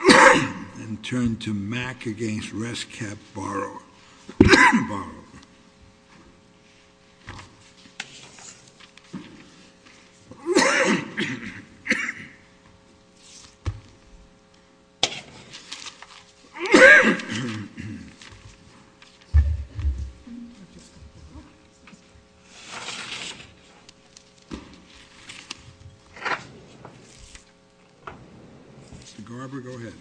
And turn to Mac against Rest Cap Borrower, Borrower. David Garber, go ahead.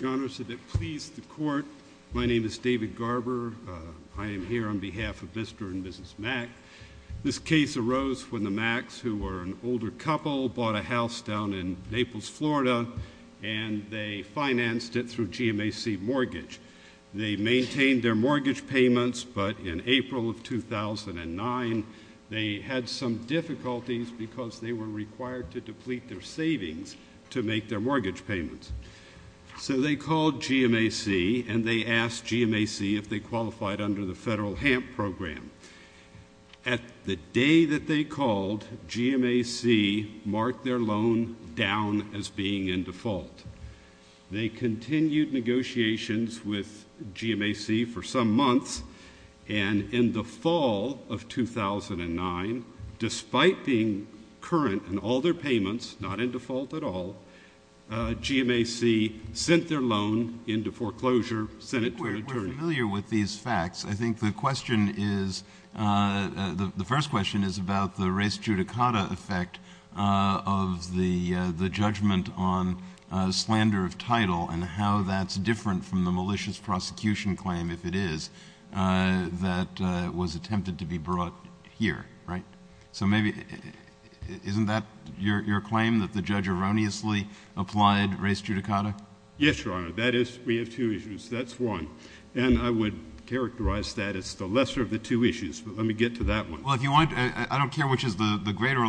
Your Honor, so that please the court, my name is David Garber. I am here on behalf of Mr. and Mrs. Mac. This case arose when the Macs, who were an older couple, bought a house down in Naples, Florida, and they financed it through GMAC mortgage. They maintained their mortgage payments, but in April of 2009, they had some difficulties because they were required to deplete their savings to make their mortgage payments. So they called GMAC and they asked GMAC if they qualified under the federal HAMP program. At the day that they called, GMAC marked their loan down as being in default. They continued negotiations with GMAC for some months, and in the fall of 2009, despite being current in all their payments, not in default at all, GMAC sent their loan into foreclosure, sent it to an attorney. We're familiar with these facts. I think the question is, the first question is about the res judicata effect of the judgment on slander of title and how that's different from the malicious prosecution claim, if it is, that was attempted to be brought here, right? So maybe, isn't that your claim that the judge erroneously applied res judicata? Yes, Your Honor. That is. We have two issues. That's one. And I would characterize that as the lesser of the two issues, but let me get to that one. Well, if you want, I don't care which is the greater.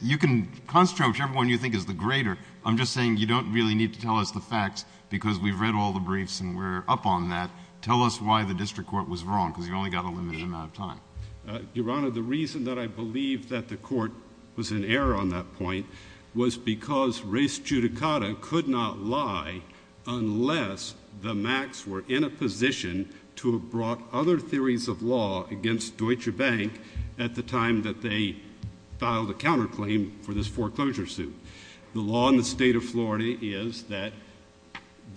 You can construct whichever one you think is the greater. I'm just saying you don't really need to tell us the facts because we've read all the briefs and we're up on that. Tell us why the district court was wrong because you've only got a limited amount of time. Your Honor, the reason that I believe that the court was in error on that point was because res judicata could not lie unless the Macs were in a position to have brought other theories of law against Deutsche Bank at the time that they filed a counterclaim for this foreclosure suit. The law in the state of Florida is that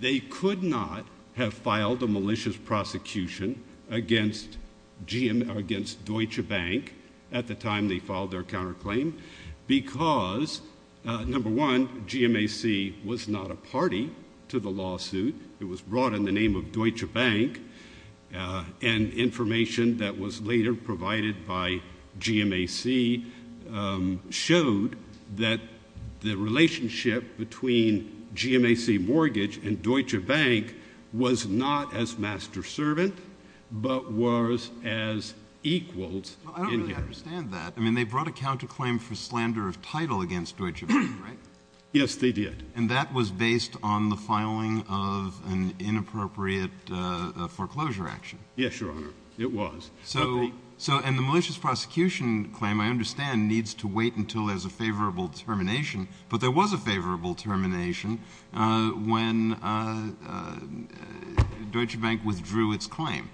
they could not have filed a malicious prosecution against Deutsche Bank at the time they filed their counterclaim because, number one, GMAC was not a party to the lawsuit. It was brought in the name of Deutsche Bank. And information that was later provided by GMAC showed that the relationship between GMAC Mortgage and Deutsche Bank was not as master-servant but was as equals. I don't really understand that. I mean, they brought a counterclaim for slander of title against Deutsche Bank, right? Yes, they did. And that was based on the filing of an inappropriate foreclosure action? Yes, Your Honor. It was. And the malicious prosecution claim, I understand, needs to wait until there's a favorable termination. But there was a favorable termination when Deutsche Bank withdrew its claim.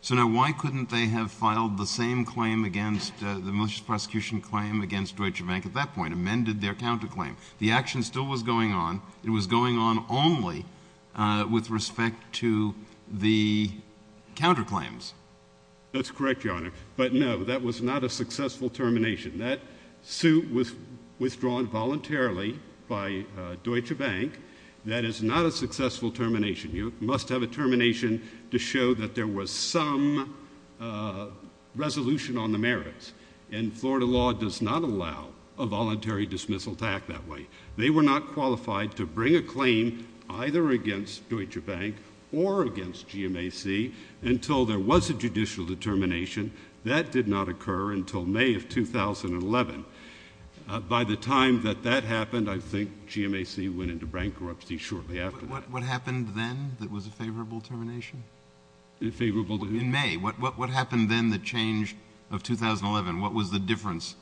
So now why couldn't they have filed the same claim against, the malicious prosecution claim against Deutsche Bank at that point, amended their counterclaim? The action still was going on. It was going on only with respect to the counterclaims. That's correct, Your Honor. But, no, that was not a successful termination. That suit was withdrawn voluntarily by Deutsche Bank. That is not a successful termination. You must have a termination to show that there was some resolution on the merits. And Florida law does not allow a voluntary dismissal to act that way. They were not qualified to bring a claim either against Deutsche Bank or against GMAC until there was a judicial determination. That did not occur until May of 2011. By the time that that happened, I think GMAC went into bankruptcy shortly after that. What happened then that was a favorable termination? A favorable termination? In May. What happened then, the change of 2011? What was the difference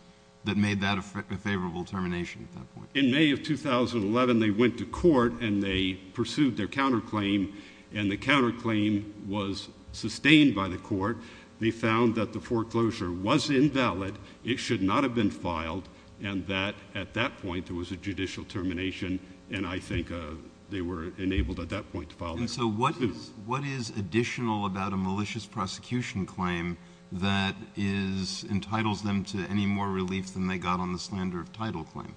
that made that a favorable termination at that point? In May of 2011, they went to court and they pursued their counterclaim, and the counterclaim was sustained by the court. They found that the foreclosure was invalid. It should not have been filed, and that at that point there was a judicial termination, And so what is additional about a malicious prosecution claim that entitles them to any more relief than they got on the slander of title claim?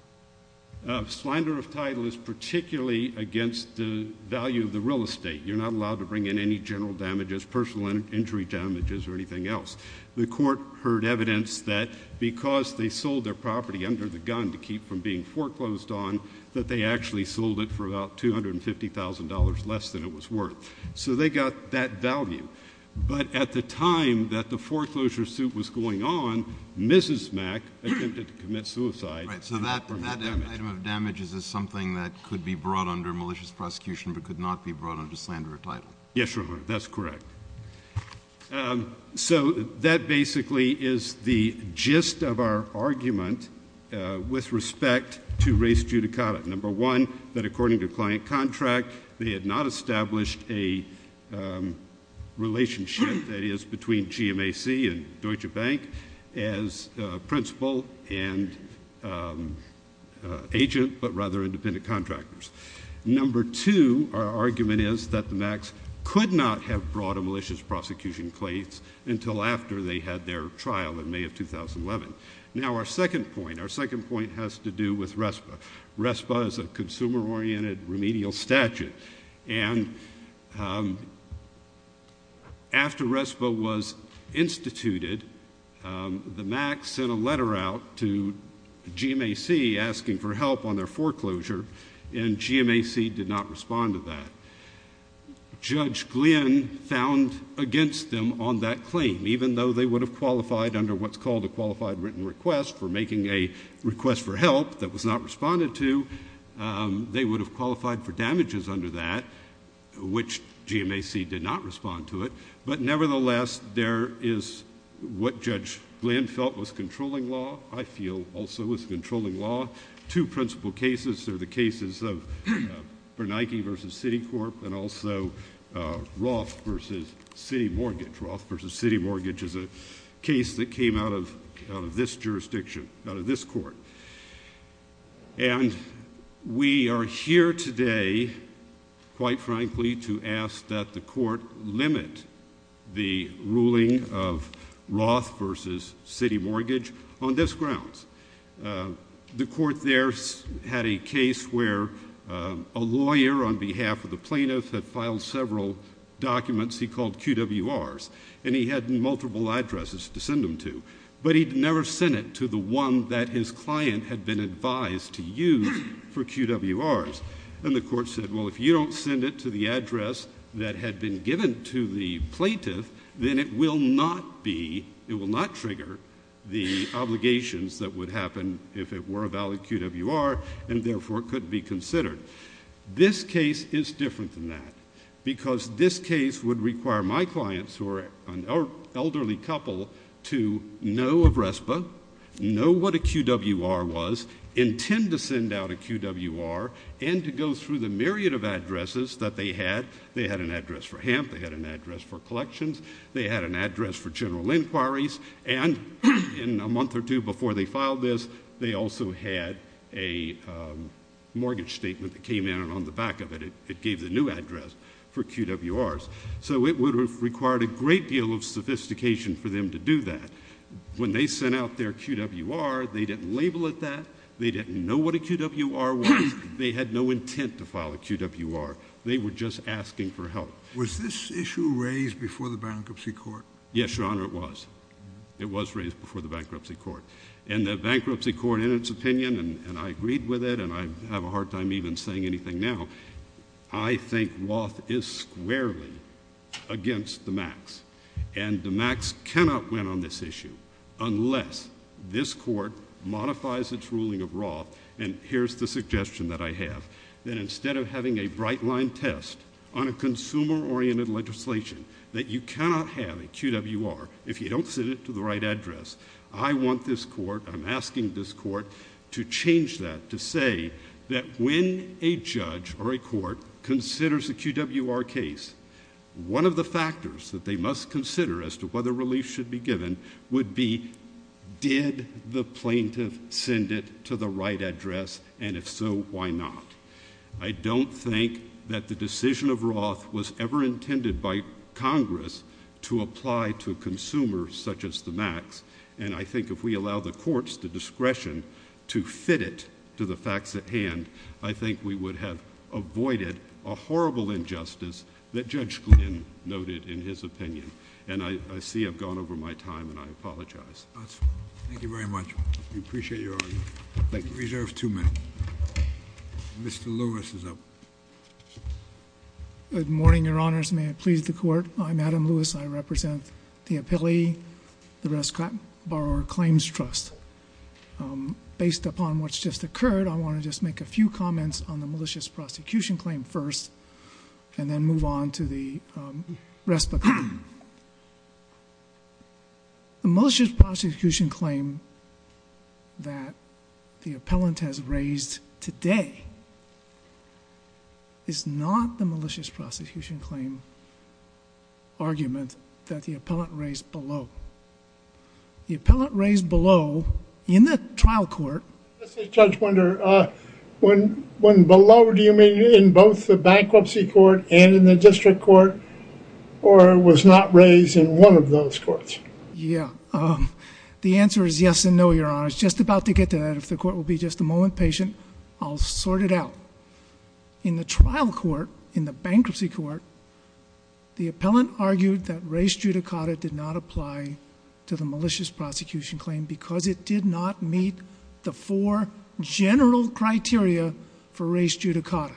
Slander of title is particularly against the value of the real estate. You're not allowed to bring in any general damages, personal injury damages, or anything else. The court heard evidence that because they sold their property under the gun to keep from being foreclosed on, that they actually sold it for about $250,000 less than it was worth. So they got that value. But at the time that the foreclosure suit was going on, Mrs. Mac attempted to commit suicide. Right, so that item of damages is something that could be brought under malicious prosecution but could not be brought under slander of title. Yes, Your Honor, that's correct. So that basically is the gist of our argument with respect to res judicata. Number one, that according to client contract, they had not established a relationship, that is, between GMAC and Deutsche Bank as principal and agent but rather independent contractors. Number two, our argument is that the Macs could not have brought a malicious prosecution case until after they had their trial in May of 2011. Now, our second point, our second point has to do with RESPA. RESPA is a consumer-oriented remedial statute. And after RESPA was instituted, the Macs sent a letter out to GMAC asking for help on their foreclosure, and GMAC did not respond to that. Judge Glynn found against them on that claim. Even though they would have qualified under what's called a qualified written request for making a request for help that was not responded to, they would have qualified for damages under that, which GMAC did not respond to it. But nevertheless, there is what Judge Glynn felt was controlling law, I feel also was controlling law. Two principal cases are the cases of Bernanke v. Citicorp and also Roth v. City Mortgage. Roth v. City Mortgage is a case that came out of this jurisdiction, out of this court. And we are here today, quite frankly, to ask that the court limit the ruling of Roth v. City Mortgage on this grounds. The court there had a case where a lawyer on behalf of the plaintiff had filed several documents he called QWRs, and he had multiple addresses to send them to. But he'd never sent it to the one that his client had been advised to use for QWRs. And the court said, well, if you don't send it to the address that had been given to the plaintiff, then it will not be, it will not trigger the obligations that would happen if it were a valid QWR, and therefore it couldn't be considered. This case is different than that because this case would require my clients who are an elderly couple to know of RESPA, know what a QWR was, intend to send out a QWR, and to go through the myriad of addresses that they had. They had an address for HAMP. They had an address for collections. They had an address for general inquiries. And in a month or two before they filed this, they also had a mortgage statement that came in on the back of it. It gave the new address for QWRs. So it would have required a great deal of sophistication for them to do that. When they sent out their QWR, they didn't label it that. They didn't know what a QWR was. They had no intent to file a QWR. They were just asking for help. Was this issue raised before the bankruptcy court? Yes, Your Honor, it was. It was raised before the bankruptcy court. And the bankruptcy court, in its opinion, and I agreed with it, and I have a hard time even saying anything now, I think Roth is squarely against the MACs. And the MACs cannot win on this issue unless this court modifies its ruling of Roth. And here's the suggestion that I have, that instead of having a bright-line test on a consumer-oriented legislation that you cannot have a QWR if you don't send it to the right address, I want this court, I'm asking this court to change that to say that when a judge or a court considers a QWR case, one of the factors that they must consider as to whether relief should be given would be, did the plaintiff send it to the right address, and if so, why not? I don't think that the decision of Roth was ever intended by Congress to apply to a consumer such as the MACs. And I think if we allow the courts the discretion to fit it to the facts at hand, I think we would have avoided a horrible injustice that Judge Glynn noted in his opinion. And I see I've gone over my time, and I apologize. Thank you very much. We appreciate your argument. Thank you. We reserve two minutes. Mr. Lewis is up. Good morning, Your Honors. May it please the Court? I'm Adam Lewis. I represent the appellee, the Rescott Borrower Claims Trust. Based upon what's just occurred, I want to just make a few comments on the malicious prosecution claim first and then move on to the RESPA claim. The malicious prosecution claim that the appellant has raised today is not the malicious prosecution claim argument that the appellant raised below. The appellant raised below in the trial court. This is Judge Wunder. When below, do you mean in both the bankruptcy court and in the district court, or was not raised in one of those courts? Yeah. The answer is yes and no, Your Honors. Just about to get to that. If the Court will be just a moment patient, I'll sort it out. In the trial court, in the bankruptcy court, the appellant argued that res judicata did not apply to the malicious prosecution claim because it did not meet the four general criteria for res judicata,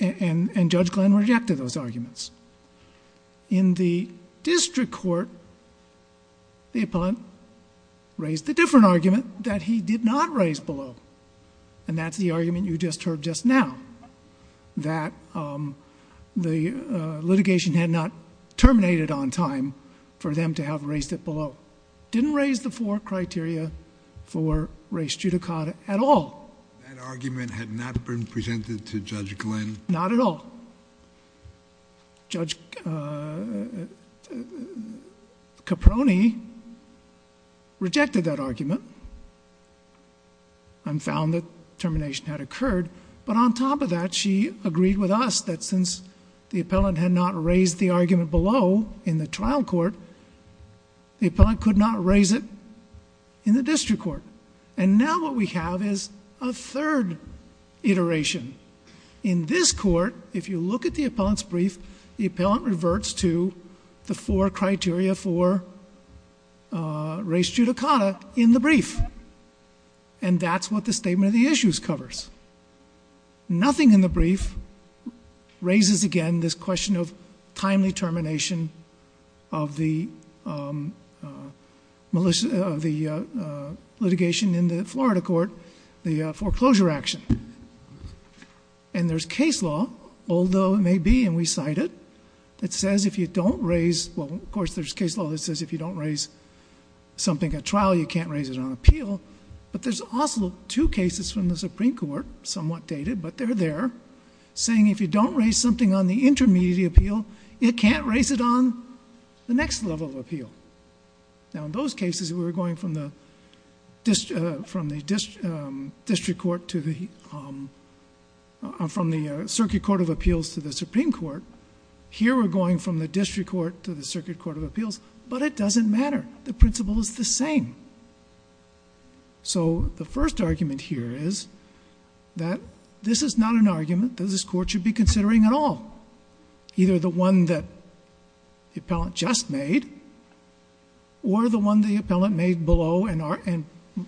and Judge Glenn rejected those arguments. In the district court, the appellant raised a different argument that he did not raise below, and that's the argument you just heard just now, that the litigation had not terminated on time for them to have raised it below. Didn't raise the four criteria for res judicata at all. That argument had not been presented to Judge Glenn? Not at all. Judge Caproni rejected that argument and found that termination had occurred, but on top of that, she agreed with us that since the appellant had not raised the argument below in the trial court, the appellant could not raise it in the district court. And now what we have is a third iteration. In this court, if you look at the appellant's brief, the appellant reverts to the four criteria for res judicata in the brief, and that's what the statement of the issues covers. Nothing in the brief raises again this question of timely termination of the litigation in the Florida court, the foreclosure action. And there's case law, although it may be, and we cite it, it says if you don't raise, well, of course, there's case law that says if you don't raise something at trial, you can't raise it on appeal. But there's also two cases from the Supreme Court, somewhat dated, but they're there, saying if you don't raise something on the intermediate appeal, you can't raise it on the next level of appeal. Now, in those cases, we were going from the circuit court of appeals to the Supreme Court. Here we're going from the district court to the circuit court of appeals, but it doesn't matter. The principle is the same. So the first argument here is that this is not an argument that this court should be considering at all, either the one that the appellant just made or the one the appellant made below and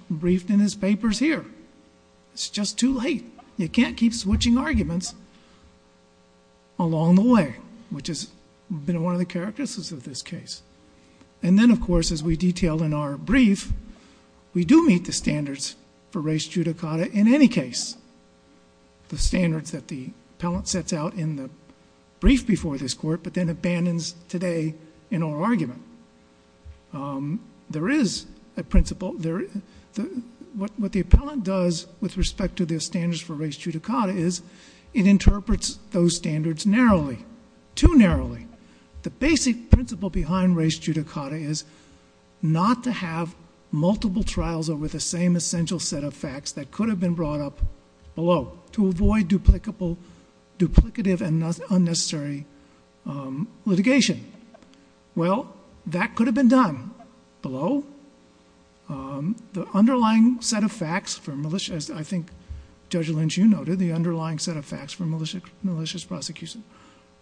briefed in his papers here. It's just too late. You can't keep switching arguments along the way, which has been one of the characteristics of this case. And then, of course, as we detail in our brief, we do meet the standards for res judicata in any case, the standards that the appellant sets out in the brief before this court but then abandons today in our argument. There is a principle. What the appellant does with respect to the standards for res judicata is it interprets those standards narrowly, too narrowly. The basic principle behind res judicata is not to have multiple trials over the same essential set of facts that could have been brought up below to avoid duplicative and unnecessary litigation. Well, that could have been done below. The underlying set of facts for malicious, as I think Judge Lynch, you noted, the underlying set of facts for malicious prosecution,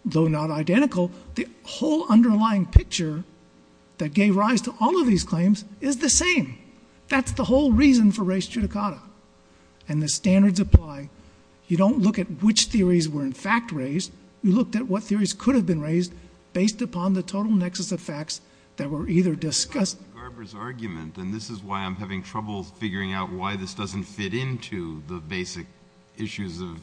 though not identical, the whole underlying picture that gave rise to all of these claims is the same. That's the whole reason for res judicata. And the standards apply. You don't look at which theories were in fact raised. You looked at what theories could have been raised based upon the total nexus of facts that were either discussed. Barbara's argument, and this is why I'm having trouble figuring out why this doesn't fit into the basic issues of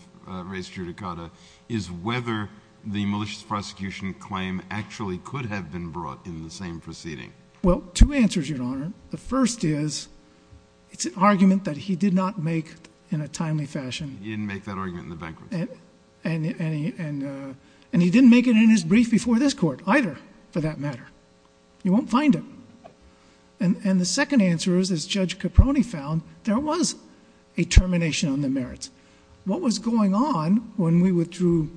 res judicata, is whether the malicious prosecution claim actually could have been brought in the same proceeding. Well, two answers, Your Honor. The first is it's an argument that he did not make in a timely fashion. He didn't make that argument in the banquet. And he didn't make it in his brief before this court either, for that matter. You won't find him. And the second answer is, as Judge Caproni found, there was a termination on the merits. What was going on when we withdrew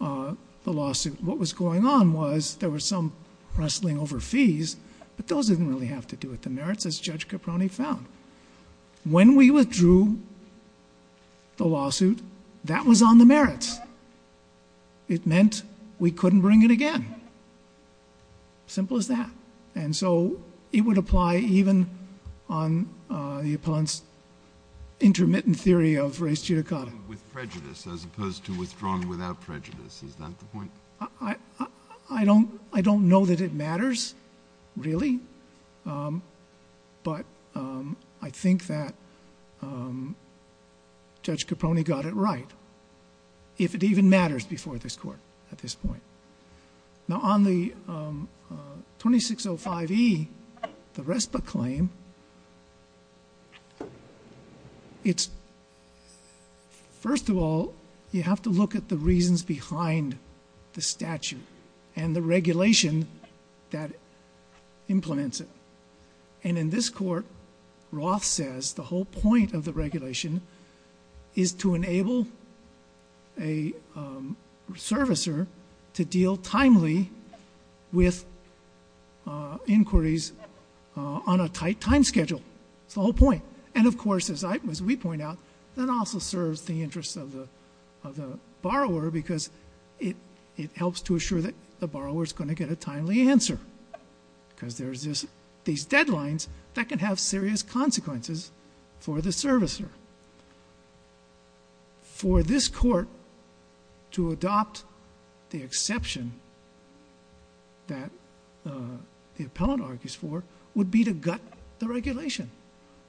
the lawsuit? What was going on was there was some wrestling over fees, but those didn't really have to do with the merits, as Judge Caproni found. When we withdrew the lawsuit, that was on the merits. It meant we couldn't bring it again. Simple as that. And so it would apply even on the opponent's intermittent theory of res judicata. With prejudice as opposed to withdrawn without prejudice. Is that the point? I don't know that it matters, really. But I think that Judge Caproni got it right, if it even matters before this court at this point. Now, on the 2605E, the RESPA claim, first of all, you have to look at the reasons behind the statute and the regulation that implements it. And in this court, Roth says the whole point of the regulation is to enable a servicer to deal timely with inquiries on a tight time schedule. It's the whole point. And, of course, as we point out, that also serves the interest of the borrower because it helps to assure that the borrower is going to get a timely answer. Because there's these deadlines that can have serious consequences for the servicer. For this court, to adopt the exception that the appellant argues for would be to gut the regulation.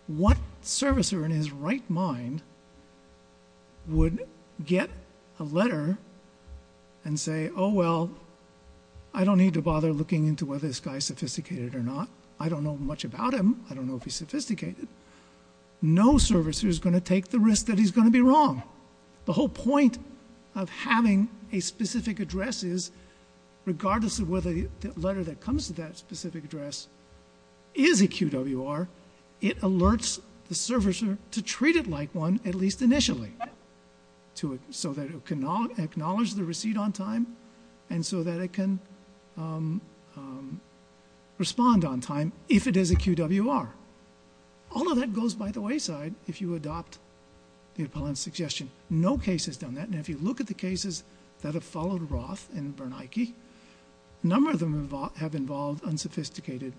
What servicer in his right mind would get a letter and say, oh, well, I don't need to bother looking into whether this guy is sophisticated or not. I don't know much about him. I don't know if he's sophisticated. No servicer is going to take the risk that he's going to be wrong. The whole point of having a specific address is, whether the letter that comes to that specific address is a QWR, it alerts the servicer to treat it like one, at least initially, so that it can acknowledge the receipt on time and so that it can respond on time if it is a QWR. All of that goes by the wayside if you adopt the appellant's suggestion. No case has done that. If you look at the cases that have followed Roth and Bernanke, a number of them have involved unsophisticated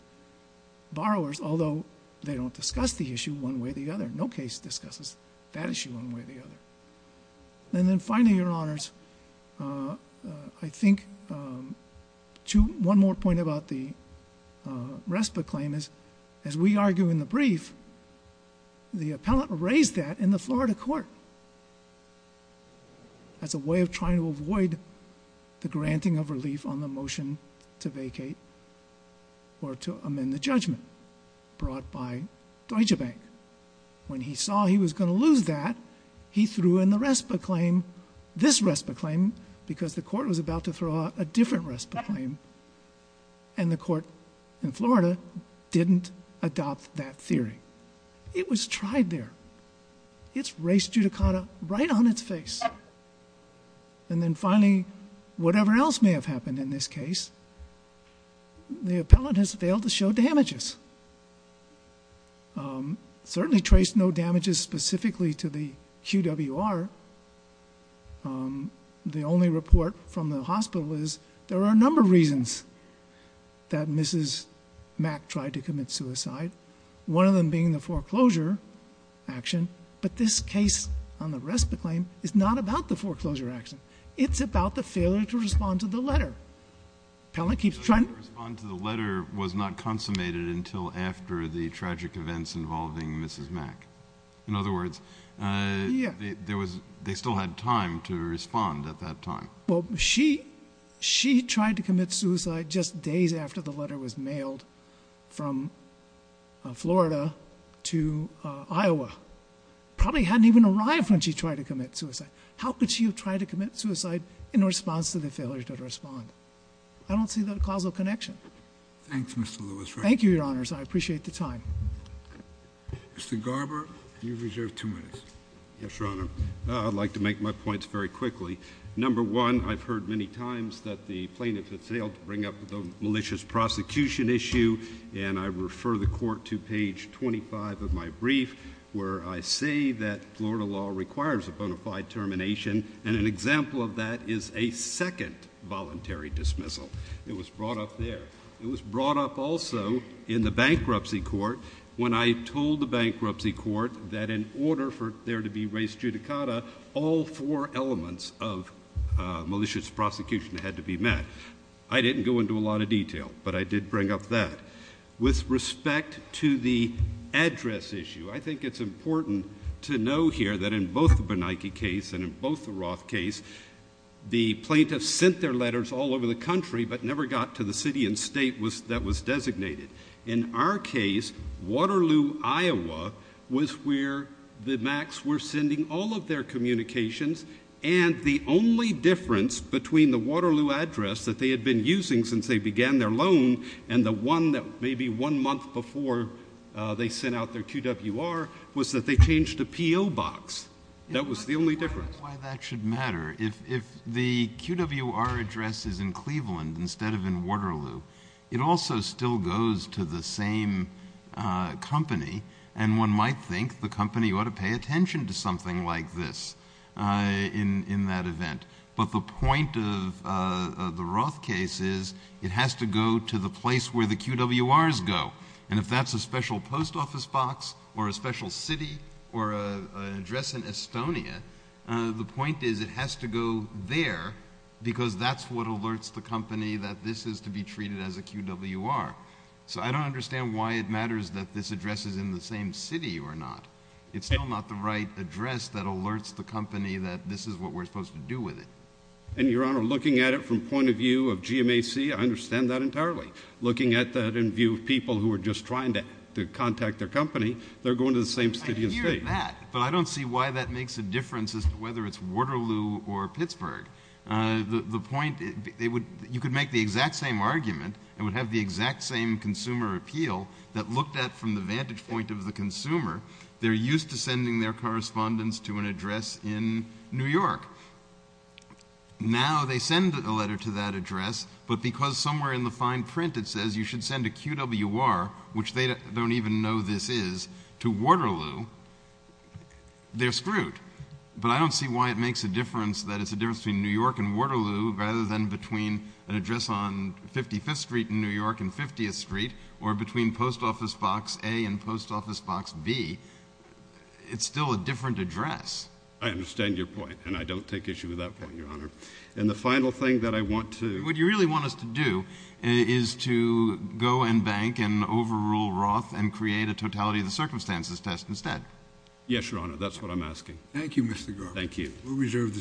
borrowers, although they don't discuss the issue one way or the other. No case discusses that issue one way or the other. Then finally, Your Honors, I think one more point about the RESPA claim is, as we argue in the brief, the appellant raised that in the Florida court as a way of trying to avoid the granting of relief on the motion to vacate or to amend the judgment brought by Deutsche Bank. When he saw he was going to lose that, he threw in the RESPA claim, this RESPA claim, because the court was about to throw out a different RESPA claim, and the court in Florida didn't adopt that theory. It was tried there. It's race judicata right on its face. Then finally, whatever else may have happened in this case, the appellant has failed to show damages. Certainly traced no damages specifically to the QWR. The only report from the hospital is there are a number of reasons that Mrs. Mack tried to commit suicide, one of them being the foreclosure action, but this case on the RESPA claim is not about the foreclosure action. It's about the failure to respond to the letter. Appellant keeps trying to... The failure to respond to the letter was not consummated until after the tragic events involving Mrs. Mack. In other words, they still had time to respond at that time. Well, she tried to commit suicide just days after the letter was mailed from Florida to Iowa. Probably hadn't even arrived when she tried to commit suicide. How could she have tried to commit suicide in response to the failure to respond? I don't see that causal connection. Thanks, Mr. Lewis. Thank you, Your Honours. I appreciate the time. Mr. Garber, you've reserved two minutes. Yes, Your Honour. I'd like to make my points very quickly. Number one, I've heard many times that the plaintiff has failed to bring up the malicious prosecution issue, and I refer the court to page 25 of my brief where I say that Florida law requires a bona fide termination, and an example of that is a second voluntary dismissal. It was brought up there. It was brought up also in the bankruptcy court when I told the bankruptcy court that in order for there to be res judicata, all four elements of malicious prosecution had to be met. I didn't go into a lot of detail, but I did bring up that. With respect to the address issue, I think it's important to know here that in both the Bernanke case and in both the Roth case, the plaintiffs sent their letters all over the country but never got to the city and state that was designated. In our case, Waterloo, Iowa, was where the MACs were sending all of their communications, and the only difference between the Waterloo address that they had been using since they began their loan and the one that maybe one month before they sent out their QWR was that they changed the P.O. box. That was the only difference. Why that should matter. If the QWR address is in Cleveland instead of in Waterloo, it also still goes to the same company, and one might think the company ought to pay attention to something like this in that event. But the point of the Roth case is it has to go to the place where the QWRs go, and if that's a special post office box or a special city or an address in Estonia, the point is it has to go there because that's what alerts the company that this is to be treated as a QWR. So I don't understand why it matters that this address is in the same city or not. It's still not the right address that alerts the company that this is what we're supposed to do with it. And, Your Honor, looking at it from the point of view of GMAC, I understand that entirely. Looking at that in view of people who are just trying to contact their company, they're going to the same city and state. I get that, but I don't see why that makes a difference as to whether it's Waterloo or Pittsburgh. The point... You could make the exact same argument and would have the exact same consumer appeal that looked at from the vantage point of the consumer. They're used to sending their correspondence to an address in New York. Now they send a letter to that address, but because somewhere in the fine print it says you should send a QWR, which they don't even know this is, to Waterloo, they're screwed. But I don't see why it makes a difference that it's a difference between New York and Waterloo rather than between an address on 55th Street in New York and 50th Street or between Post Office Box A and Post Office Box B. It's still a different address. I understand your point, and I don't take issue with that point, Your Honor. And the final thing that I want to... What you really want us to do is to go and bank and overrule Roth and create a totality of the circumstances test instead. Yes, Your Honor, that's what I'm asking. Thank you, Mr. Garber. Thank you. We'll reserve the decision.